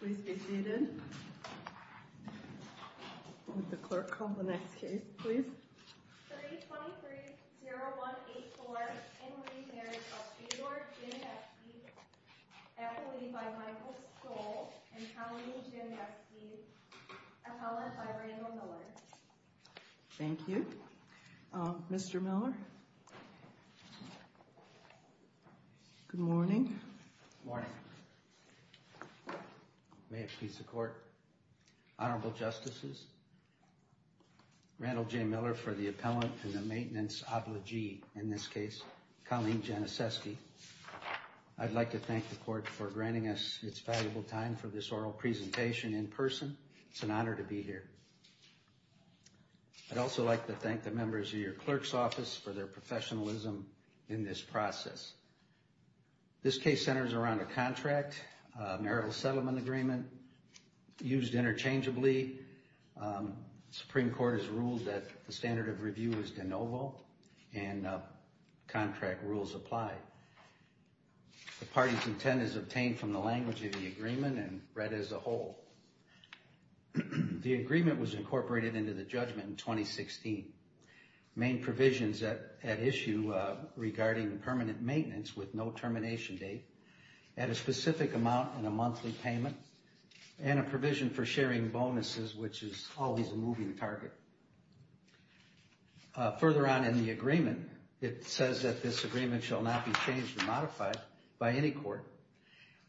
Please be seated. Would the clerk call the next case, please? 3-23-0184 Henry Mary Custody, or Jim Neskey, accolade by Michael Stoll and colony Jim Neskey, appellate by Randall Miller. Thank you. Mr. Miller? Good morning. Good morning. May it please the court. Honorable Justices, Randall J. Miller for the appellant and the maintenance obligee in this case, Colleen Januszewski. I'd like to thank the court for granting us its valuable time for this oral presentation in person. It's an honor to be here. I'd also like to thank the members of your clerk's office for their professionalism in this process. This case centers around a contract, a marital settlement agreement. Used interchangeably, the Supreme Court has ruled that the standard of review is de novo and contract rules apply. The party's intent is obtained from the language of the agreement and read as a whole. The agreement was incorporated into the judgment in 2016. Main provisions at issue regarding permanent maintenance with no termination date, and a specific amount in a monthly payment, and a provision for sharing bonuses, which is always a moving target. Further on in the agreement, it says that this agreement shall not be changed or modified by any court,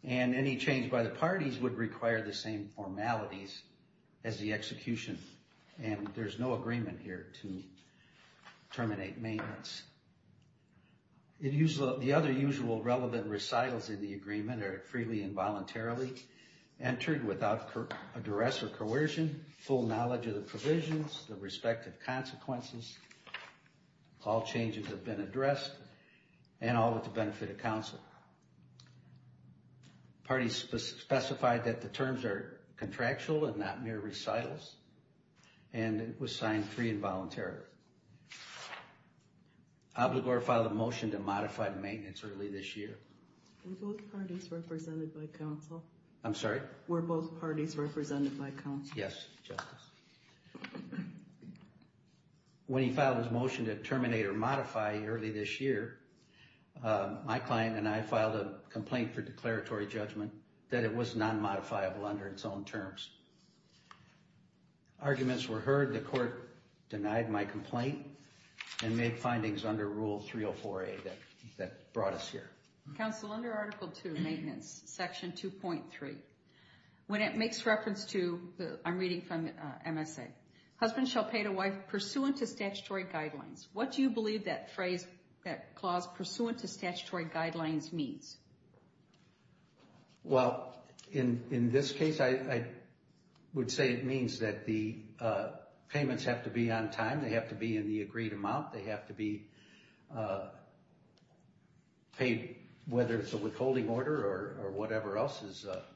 and any change by the parties would require the same formalities as the execution. And there's no agreement here to terminate maintenance. The other usual relevant recitals in the agreement are freely and voluntarily entered without address or coercion, full knowledge of the provisions, the respective consequences, all changes have been addressed, and all with the benefit of counsel. The parties specified that the terms are contractual and not mere recitals, and it was signed free and voluntarily. Obligor filed a motion to modify the maintenance early this year. Were both parties represented by counsel? I'm sorry? Were both parties represented by counsel? Yes, Justice. When he filed his motion to terminate or modify early this year, my client and I filed a complaint for declaratory judgment that it was non-modifiable under its own terms. Arguments were heard. The court denied my complaint and made findings under Rule 304A that brought us here. Counsel, under Article II, Maintenance, Section 2.3, when it makes reference to, I'm reading from MSA, husband shall pay to wife pursuant to statutory guidelines, what do you believe that clause, pursuant to statutory guidelines, means? Well, in this case, I would say it means that the payments have to be on time, they have to be in the agreed amount, they have to be paid, whether it's a withholding order or whatever else.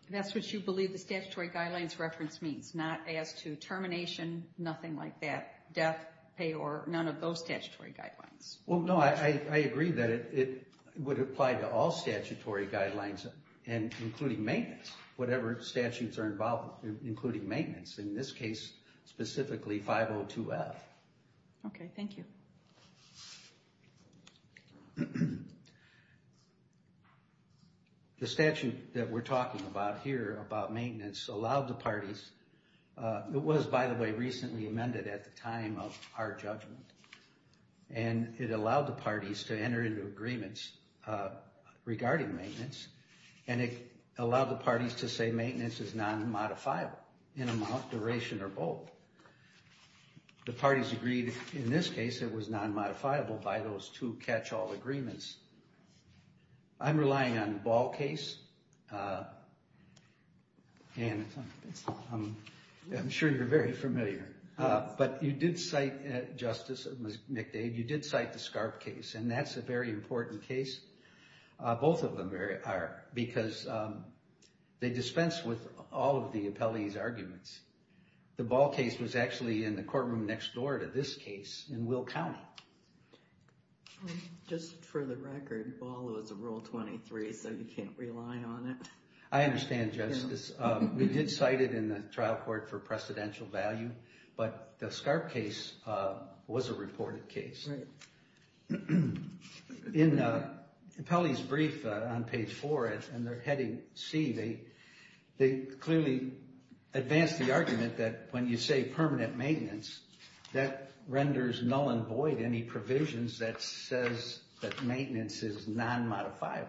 That's what you believe the statutory guidelines reference means, not as to termination, nothing like that, death, pay, or none of those statutory guidelines? Well, no, I agree that it would apply to all statutory guidelines, including maintenance, whatever statutes are involved, including maintenance. In this case, specifically 502F. Okay, thank you. The statute that we're talking about here, about maintenance, allowed the parties, it was, by the way, recently amended at the time of our judgment, and it allowed the parties to enter into agreements regarding maintenance, and it allowed the parties to say maintenance is non-modifiable in amount, duration, or both. The parties agreed, in this case, it was non-modifiable by those two catch-all agreements. I'm relying on the Ball case, and I'm sure you're very familiar, but you did cite, Justice McDade, you did cite the Scarp case, and that's a very important case. Both of them are, because they dispense with all of the appellee's arguments. The Ball case was actually in the courtroom next door to this case in Will County. Just for the record, Ball was a Rule 23, so you can't rely on it. I understand, Justice. We did cite it in the trial court for precedential value, but the Scarp case was a reported case. In the appellee's brief on page four, and they're heading C, they clearly advance the argument that when you say permanent maintenance, that renders null and void any provisions that says that maintenance is non-modifiable.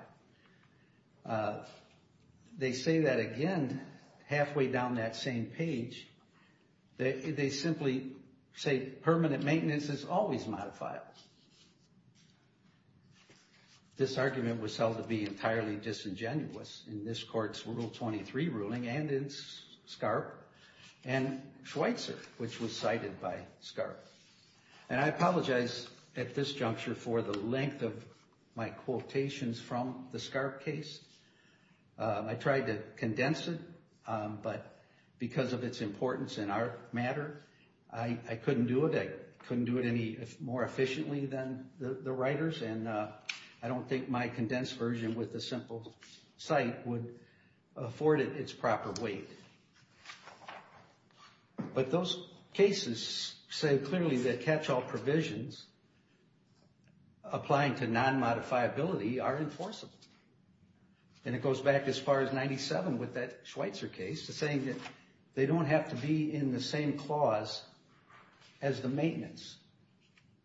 They say that again halfway down that same page. They simply say permanent maintenance is always modifiable. This argument was held to be entirely disingenuous in this court's Rule 23 ruling, and in Scarp, and Schweitzer, which was cited by Scarp. I apologize at this juncture for the length of my quotations from the Scarp case. I tried to condense it, but because of its importance in our matter, I couldn't do it. I couldn't do it any more efficiently than the writers, and I don't think my condensed version with a simple cite would afford it its proper weight. But those cases say clearly that catch-all provisions applying to non-modifiability are enforceable. And it goes back as far as 97 with that Schweitzer case, saying that they don't have to be in the same clause as the maintenance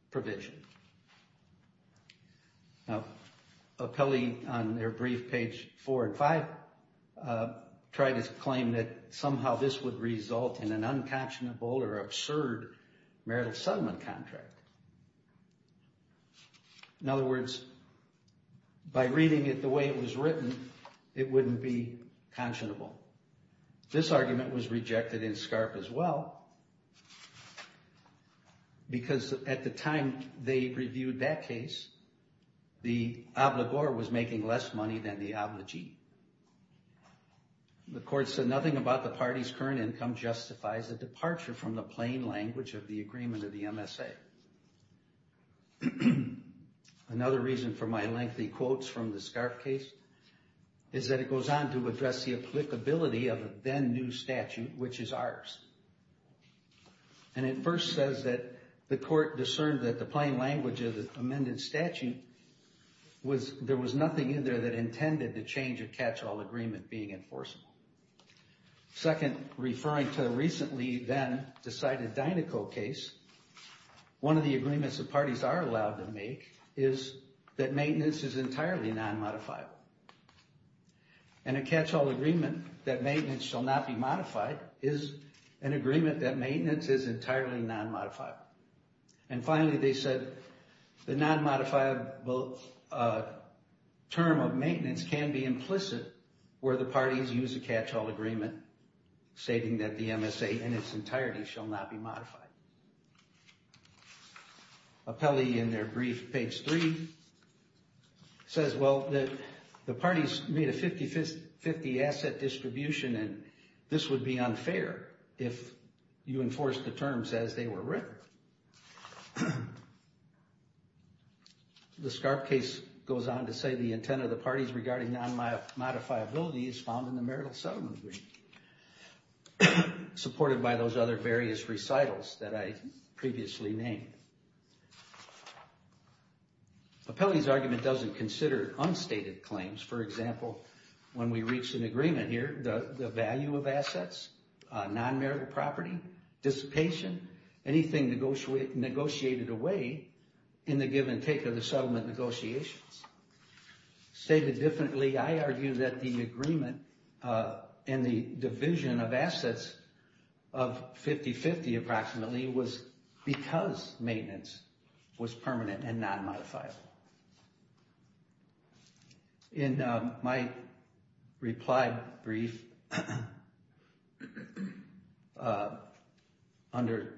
provision. Now, Apelli on their brief, page 4 and 5, tried to claim that somehow this would result in an unconscionable or absurd marital settlement contract. In other words, by reading it the way it was written, it wouldn't be conscionable. This argument was rejected in Scarp as well, because at the time they reviewed that case, the obligor was making less money than the obligee. The court said nothing about the party's current income justifies a departure from the plain language of the agreement of the MSA. Another reason for my lengthy quotes from the Scarp case is that it goes on to address the applicability of a then new statute, which is ours. And it first says that the court discerned that the plain language of the amended statute was there was nothing in there that intended the change of catch-all agreement being enforceable. Second, referring to a recently then decided Dinoco case, one of the agreements that parties are allowed to make is that maintenance is entirely non-modifiable. And a catch-all agreement that maintenance shall not be modified is an agreement that maintenance is entirely non-modifiable. And finally they said the non-modifiable term of maintenance can be implicit where the parties use a catch-all agreement stating that the MSA in its entirety shall not be modified. Appelli in their brief, page three, says, well, the parties made a 50-50 asset distribution and this would be unfair if you enforced the terms as they were written. The Scarp case goes on to say the intent of the parties regarding non-modifiability is found in the marital settlement agreement, supported by those other various recitals that I previously named. Appelli's argument doesn't consider unstated claims. For example, when we reach an agreement here, the value of assets, non-marital property, dissipation, anything negotiated away in the give and take of the settlement negotiations. Stated differently, I argue that the agreement and the division of assets of 50-50 approximately was because maintenance was permanent and non-modifiable. In my reply brief under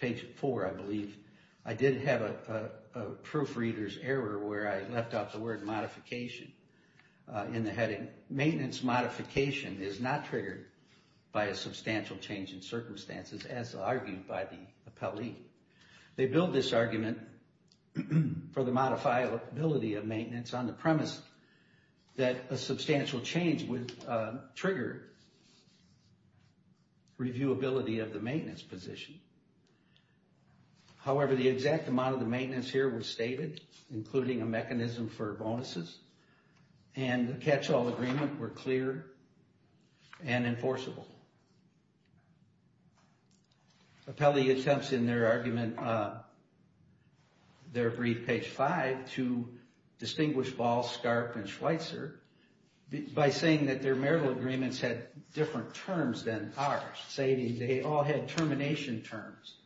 page four, I believe, I did have a proofreader's error where I left out the word modification in the heading. Maintenance modification is not triggered by a substantial change in circumstances as argued by the Appelli. They build this argument for the modifiability of maintenance on the premise that a substantial change would trigger reviewability of the maintenance position. However, the exact amount of the maintenance here was stated, including a mechanism for bonuses, and the catch-all agreement were clear and enforceable. Appelli attempts in their argument, their brief page five, to distinguish Ball, Scarp, and Schweitzer by saying that their marital agreements had different terms than ours, stating they all had termination terms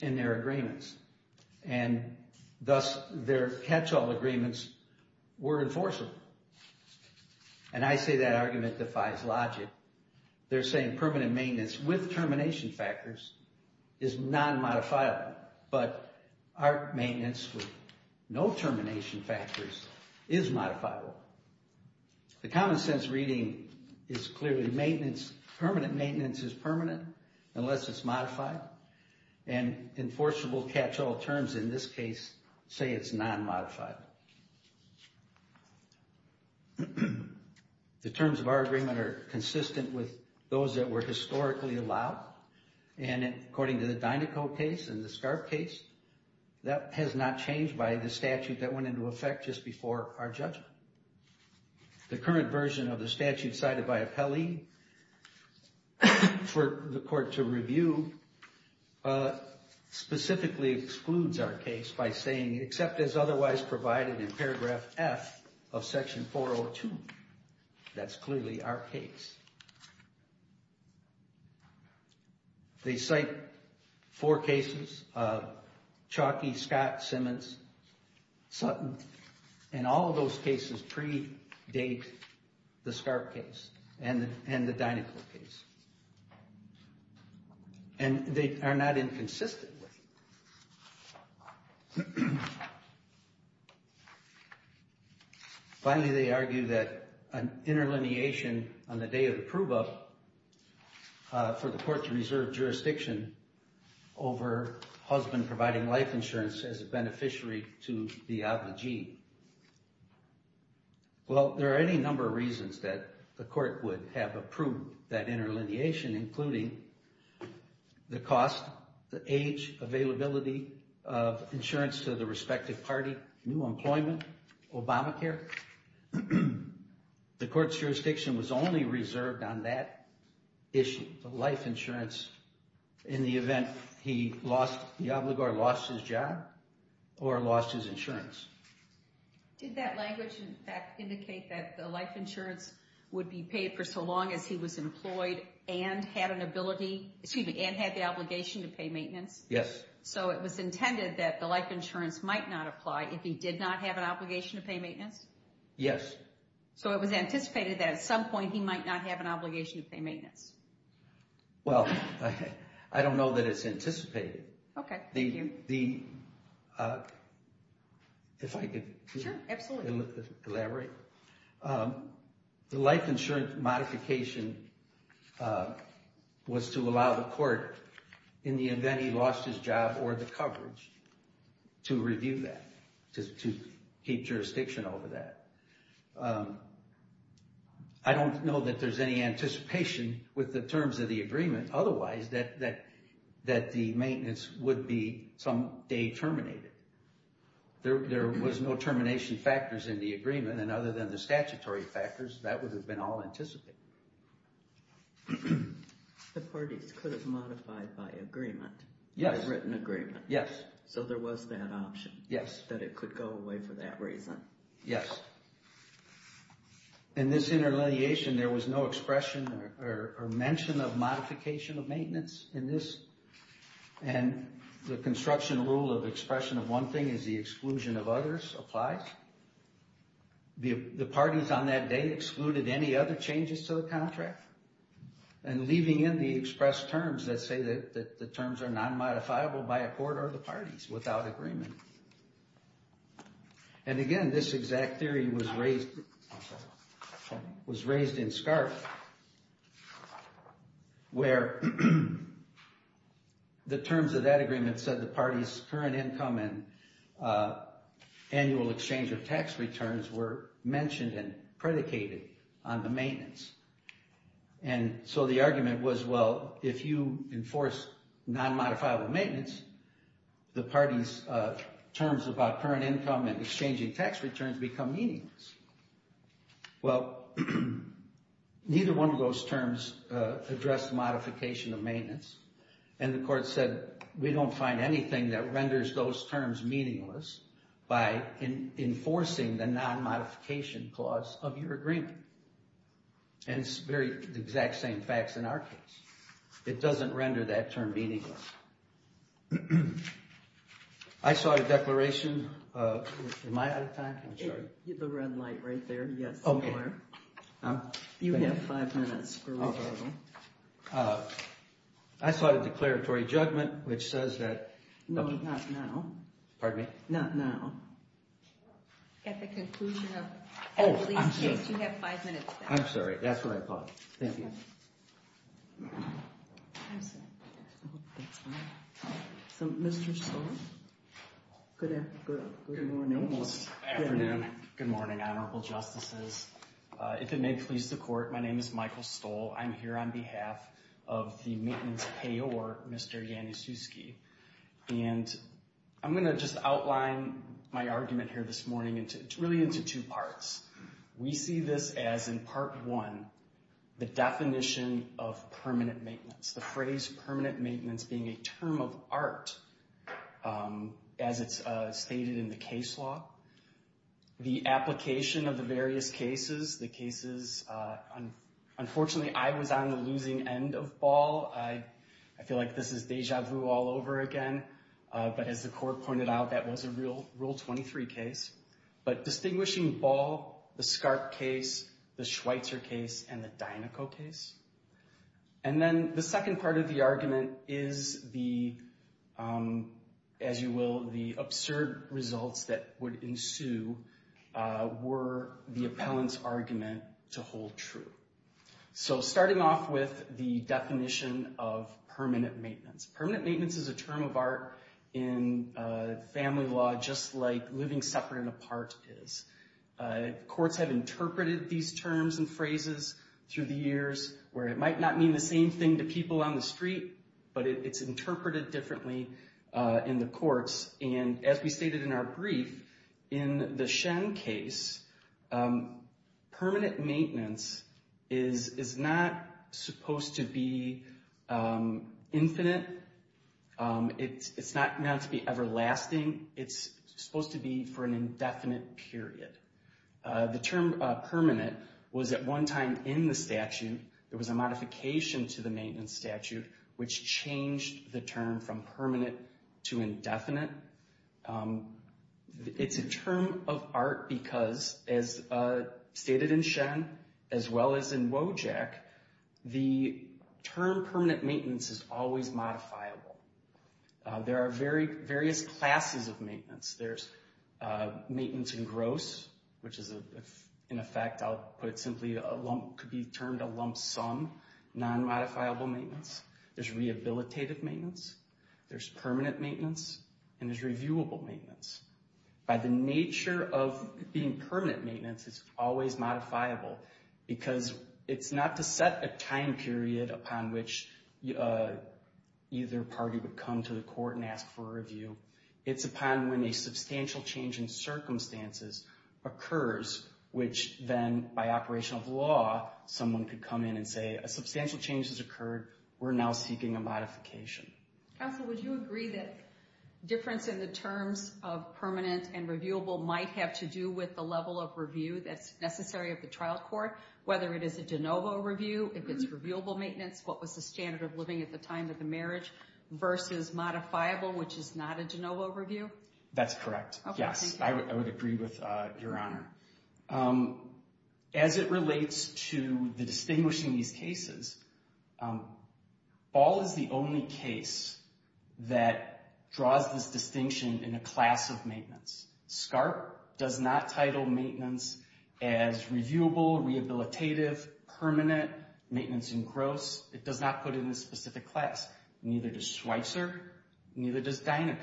in their agreements, and thus their catch-all agreements were enforceable. And I say that argument defies logic. They're saying permanent maintenance with termination factors is non-modifiable, but our maintenance with no termination factors is modifiable. The common sense reading is clearly maintenance, permanent maintenance is permanent unless it's modified, and enforceable catch-all terms in this case say it's non-modified. The terms of our agreement are consistent with those that were historically allowed, and according to the Dinoco case and the Scarp case, that has not changed by the statute that went into effect just before our judgment. The current version of the statute cited by Appelli for the court to review specifically excludes our case by saying, except as otherwise provided in paragraph F of section 402, that's clearly our case. They cite four cases, Chalky, Scott, Simmons, Sutton, and all of those cases predate the Scarp case and the Dinoco case. And they are not inconsistent. Finally, they argue that an interlineation on the day of approval for the court to reserve jurisdiction over husband providing life insurance as a beneficiary to the obligee. Well, there are any number of reasons that the court would have approved that interlineation, including the cost, the age, availability of insurance to the respective party, new employment, Obamacare. The court's jurisdiction was only reserved on that issue, the life insurance in the event the obligor lost his job or lost his insurance. Did that language, in fact, indicate that the life insurance would be paid for so long as he was employed and had the obligation to pay maintenance? Yes. So it was intended that the life insurance might not apply if he did not have an obligation to pay maintenance? Yes. So it was anticipated that at some point he might not have an obligation to pay maintenance? Well, I don't know that it's anticipated. Okay, thank you. If I could elaborate. The life insurance modification was to allow the court, in the event he lost his job or the coverage, to review that, to keep jurisdiction over that. I don't know that there's any anticipation with the terms of the agreement. Otherwise, that the maintenance would be someday terminated. There was no termination factors in the agreement, and other than the statutory factors, that would have been all anticipated. The parties could have modified by agreement? Yes. By written agreement? Yes. So there was that option? Yes. That it could go away for that reason? Yes. In this interlineation, there was no expression or mention of modification of maintenance in this? And the construction rule of expression of one thing is the exclusion of others applies? The parties on that day excluded any other changes to the contract? And leaving in the expressed terms that say that the terms are not modifiable by a court or the parties without agreement? And again, this exact theory was raised in SCARF, where the terms of that agreement said the party's current income and annual exchange of tax returns were mentioned and predicated on the maintenance. And so the argument was, well, if you enforce non-modifiable maintenance, the parties' terms about current income and exchanging tax returns become meaningless. And the court said, we don't find anything that renders those terms meaningless by enforcing the non-modification clause of your agreement. And it's the exact same facts in our case. It doesn't render that term meaningless. I saw a declaration. Am I out of time? I'm sorry. The red light right there. Yes. You have five minutes for referral. I saw the declaratory judgment, which says that... No, not now. Pardon me? Not now. At the conclusion of the release case, you have five minutes left. I'm sorry. That's what I thought. Thank you. So, Mr. Stoll. Good afternoon. Good morning. Good afternoon. Good morning, honorable justices. If it may please the court, my name is Michael Stoll. I'm here on behalf of the maintenance payor, Mr. Januszewski. And I'm going to just outline my argument here this morning, really into two parts. We see this as, in part one, the definition of permanent maintenance. The phrase permanent maintenance being a term of art, as it's stated in the case law. The application of the various cases, the cases... Unfortunately, I was on the losing end of Ball. I feel like this is deja vu all over again. But as the court pointed out, that was a Rule 23 case. But distinguishing Ball, the Scarp case, the Schweitzer case, and the Dinoco case. And then the second part of the argument is the, as you will, the absurd results that would ensue were the appellant's argument to hold true. So starting off with the definition of permanent maintenance. Permanent maintenance is a term of art in family law, just like living separate and apart is. Courts have interpreted these terms and phrases through the years, where it might not mean the same thing to people on the street, but it's interpreted differently in the courts. And as we stated in our brief, in the Shen case, permanent maintenance is not supposed to be infinite. It's not meant to be everlasting. It's supposed to be for an indefinite period. The term permanent was at one time in the statute. There was a modification to the maintenance statute, which changed the term from permanent to indefinite. It's a term of art because, as stated in Shen, as well as in Wojak, the term permanent maintenance is always modifiable. There are various classes of maintenance. There's maintenance in gross, which is, in effect, I'll put it simply, could be termed a lump sum, non-modifiable maintenance. There's rehabilitative maintenance. There's permanent maintenance. And there's reviewable maintenance. By the nature of being permanent maintenance, it's always modifiable because it's not to set a time period upon which either party would come to the court and ask for a review. It's upon when a substantial change in circumstances occurs, which then, by operation of law, someone could come in and say, a substantial change has occurred. We're now seeking a modification. Counsel, would you agree that difference in the terms of permanent and reviewable might have to do with the level of review that's necessary of the trial court? Whether it is a de novo review, if it's reviewable maintenance, what was the standard of living at the time of the marriage, versus modifiable, which is not a de novo review? That's correct, yes. I would agree with Your Honor. As it relates to the distinguishing these cases, Ball is the only case that draws this distinction in a class of maintenance. SCARP does not title maintenance as reviewable, rehabilitative, permanent, maintenance in gross. It does not put it in a specific class. Neither does Schweitzer. Neither does Dinoco.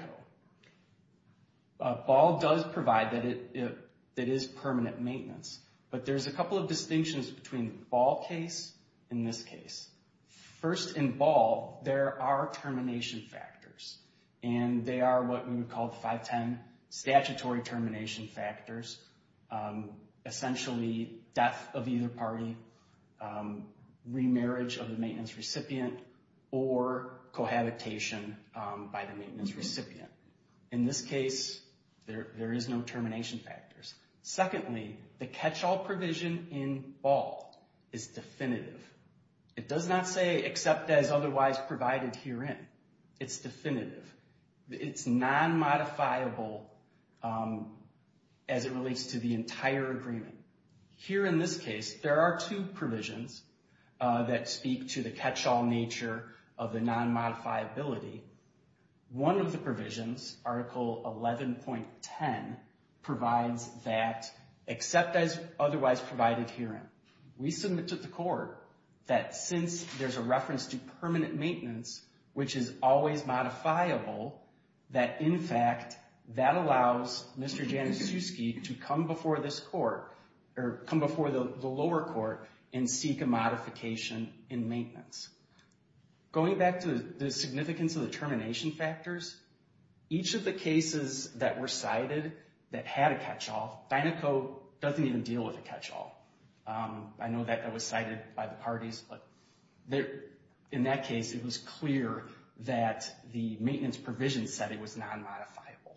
Ball does provide that it is permanent maintenance, but there's a couple of distinctions between Ball case and this case. First, in Ball, there are termination factors, and they are what we would call the 510 statutory termination factors, essentially death of either party, remarriage of the maintenance recipient, or cohabitation by the maintenance recipient. In this case, there is no termination factors. Secondly, the catch-all provision in Ball is definitive. It does not say except as otherwise provided herein. It's definitive. It's non-modifiable as it relates to the entire agreement. Here in this case, there are two provisions that speak to the catch-all nature of the non-modifiability. One of the provisions, Article 11.10, provides that except as otherwise provided herein. We submit to the court that since there's a reference to permanent maintenance, which is always modifiable, that in fact, that allows Mr. Januszewski to come before this court, or come before the lower court, and seek a modification in maintenance. Going back to the significance of the termination factors, each of the cases that were cited that had a catch-all, Dinoco doesn't even deal with a catch-all. I know that that was cited by the parties, but in that case, it was clear that the maintenance provision said it was non-modifiable.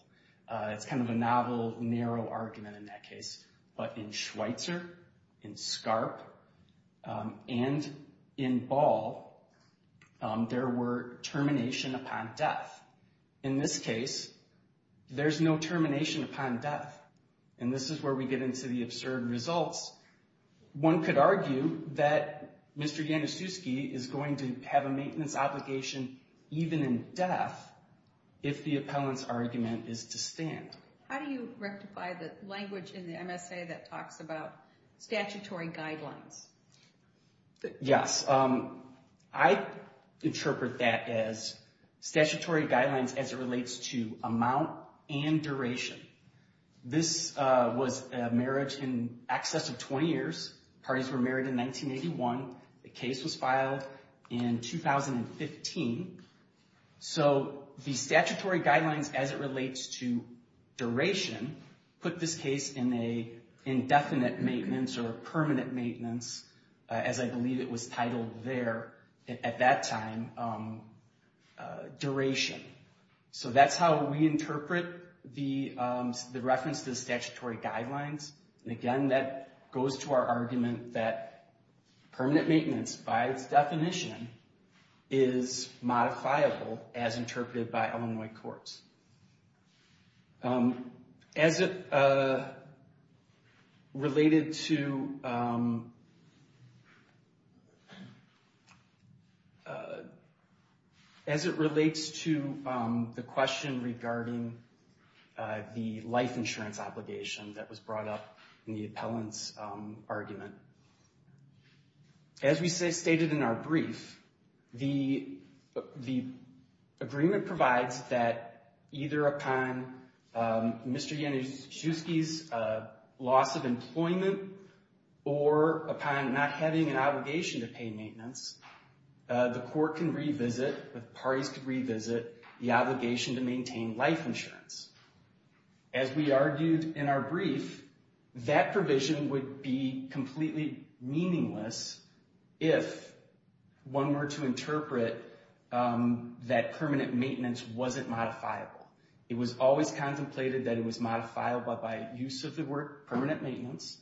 It's kind of a novel, narrow argument in that case. But in Schweitzer, in Scarp, and in Ball, there were termination upon death. In this case, there's no termination upon death. And this is where we get into the absurd results. One could argue that Mr. Januszewski is going to have a maintenance obligation even in death if the appellant's argument is to stand. How do you rectify the language in the MSA that talks about statutory guidelines? Yes. I interpret that as statutory guidelines as it relates to amount and duration. This was a marriage in excess of 20 years. Parties were married in 1981. The case was filed in 2015. So the statutory guidelines as it relates to duration put this case in an indefinite maintenance or permanent maintenance, as I believe it was titled there at that time, duration. So that's how we interpret the reference to the statutory guidelines. And again, that goes to our argument that permanent maintenance by its definition is modifiable as interpreted by Illinois courts. As it related to... As it relates to the question regarding the life insurance obligation that was brought up in the appellant's argument. As we stated in our brief, the agreement provides that either upon Mr. Januszewski's loss of employment or upon not having an obligation to pay maintenance, the court can revisit, the parties can revisit the obligation to maintain life insurance. As we argued in our brief, if one were to interpret that permanent maintenance wasn't modifiable. It was always contemplated that it was modifiable by use of the word permanent maintenance.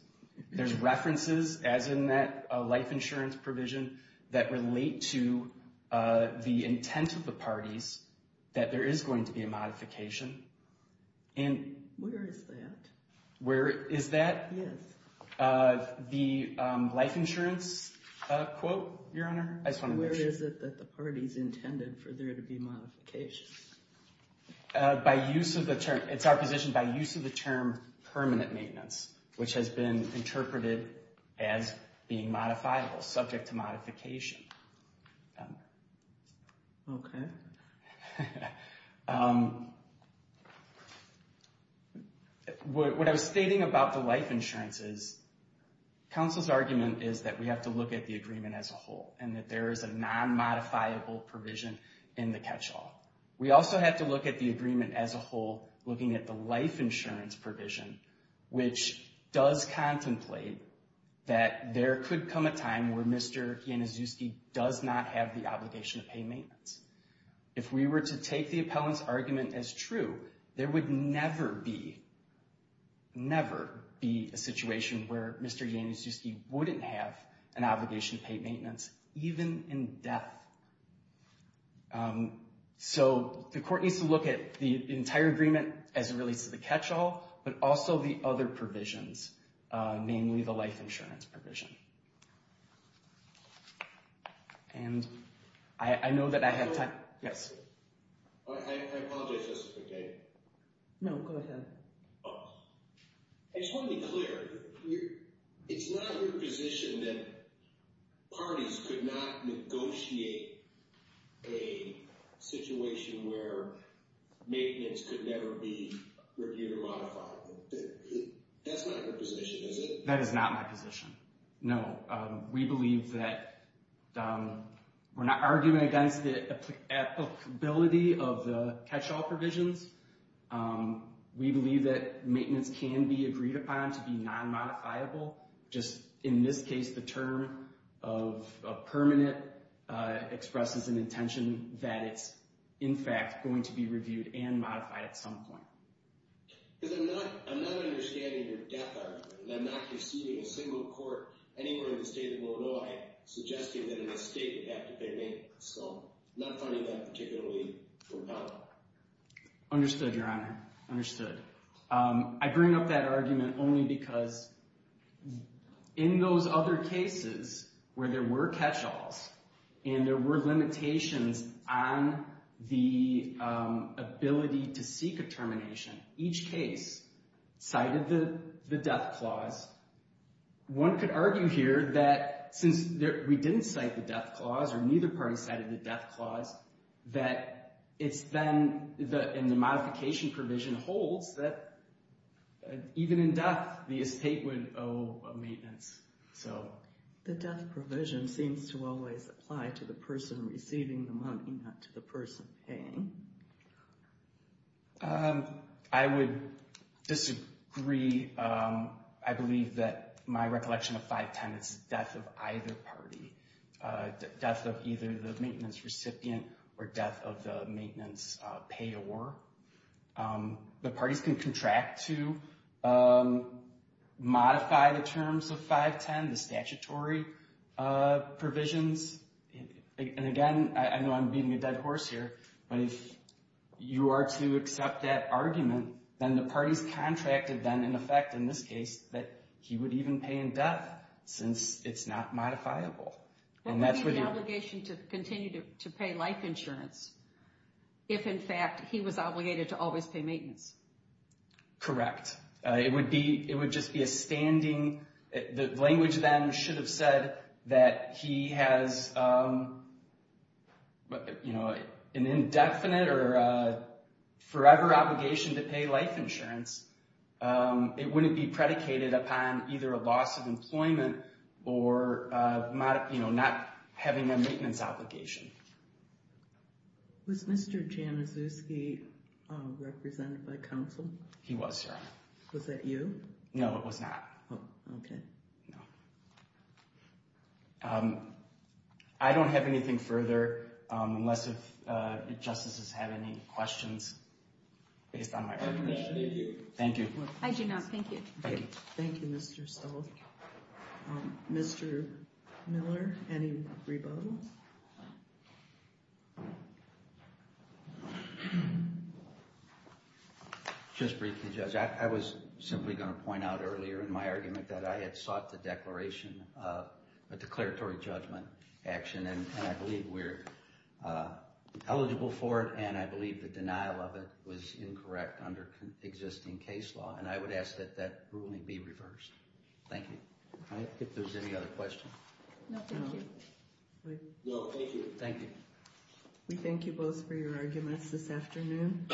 There's references as in that life insurance provision that relate to the intent of the parties that there is going to be a modification. And... Where is that? The life insurance quote, Your Honor? I just want to make sure. Where is it that the parties intended for there to be modifications? It's our position by use of the term permanent maintenance, which has been interpreted as being modifiable, subject to modification. Okay. What I was stating about the life insurances, counsel's argument is that we have to look at the agreement as a whole, and that there is a non-modifiable provision in the catch-all. We also have to look at the agreement as a whole, looking at the life insurance provision, which does contemplate that there could come a time where Mr. Janiszewski does not have the obligation to pay maintenance. If we were to take the appellant's argument as true, there would never be, never be a situation where Mr. Janiszewski wouldn't have an obligation to pay maintenance, even in death. So the court needs to look at the entire agreement as it relates to the catch-all, but also the other provisions, namely the life insurance provision. And I know that I have time. Yes. I apologize just for a second. No, go ahead. I just want to be clear. It's not your position that parties could not negotiate a situation where maintenance could never be reviewed or modified. That's not your position, is it? That is not my position. No, we believe that we're not arguing against the applicability of the catch-all provisions. We believe that maintenance can be agreed upon to be non-modifiable. Just in this case, the term of permanent expresses an intention that it's in fact going to be reviewed and modified at some point. Because I'm not understanding your death argument. I'm not receiving a single court anywhere in the state of Illinois suggesting that in the state you have to pay maintenance. So I'm not finding that particularly compelling. Understood, Your Honor. Understood. We're arguing because in those other cases where there were catch-alls and there were limitations on the ability to seek a termination, each case cited the death clause. One could argue here that since we didn't cite the death clause or neither party cited the death clause, that it's then, and the modification provision holds, that even in death, the estate would owe a maintenance. The death provision seems to always apply to the person receiving the money, not to the person paying. I would disagree. I believe that my recollection of 510 is death of either party. Death of either the maintenance recipient or death of the maintenance payor. The parties can contract to modify the terms of 510, the statutory provisions. And again, I know I'm beating a dead horse here, but if you are to accept that argument, then the parties contracted then, in effect, in this case, that he would even pay in death since it's not modifiable. And that's what you're... But what is the obligation to continue to pay life insurance if, in fact, he was obligated to always pay maintenance? Correct. It would just be a standing... The language then should have said that he has an indefinite or forever obligation to pay life insurance. It wouldn't be predicated upon either a loss of employment or not having a maintenance obligation. Was Mr. Januszewski represented by counsel? He was, Your Honor. Was that you? No, it was not. Oh, okay. No. I don't have anything further unless if Justices have any questions based on my argument. Thank you. I do not. Thank you. Thank you. Thank you, Mr. Stoltz. Mr. Miller, any rebuttals? Just briefly, Judge, I was simply going to point out earlier in my argument that I had sought the declaration a declaratory judgment action and I believe we're eligible for it and I believe the denial of it was incorrect under existing case law and I would ask that that ruling be reversed. Thank you. All right. If there's any other questions. No, thank you. No, thank you. Thank you. We thank you both for your arguments this afternoon.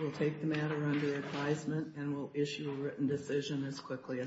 We'll take the matter under advisement and we'll issue a written decision as quickly as possible.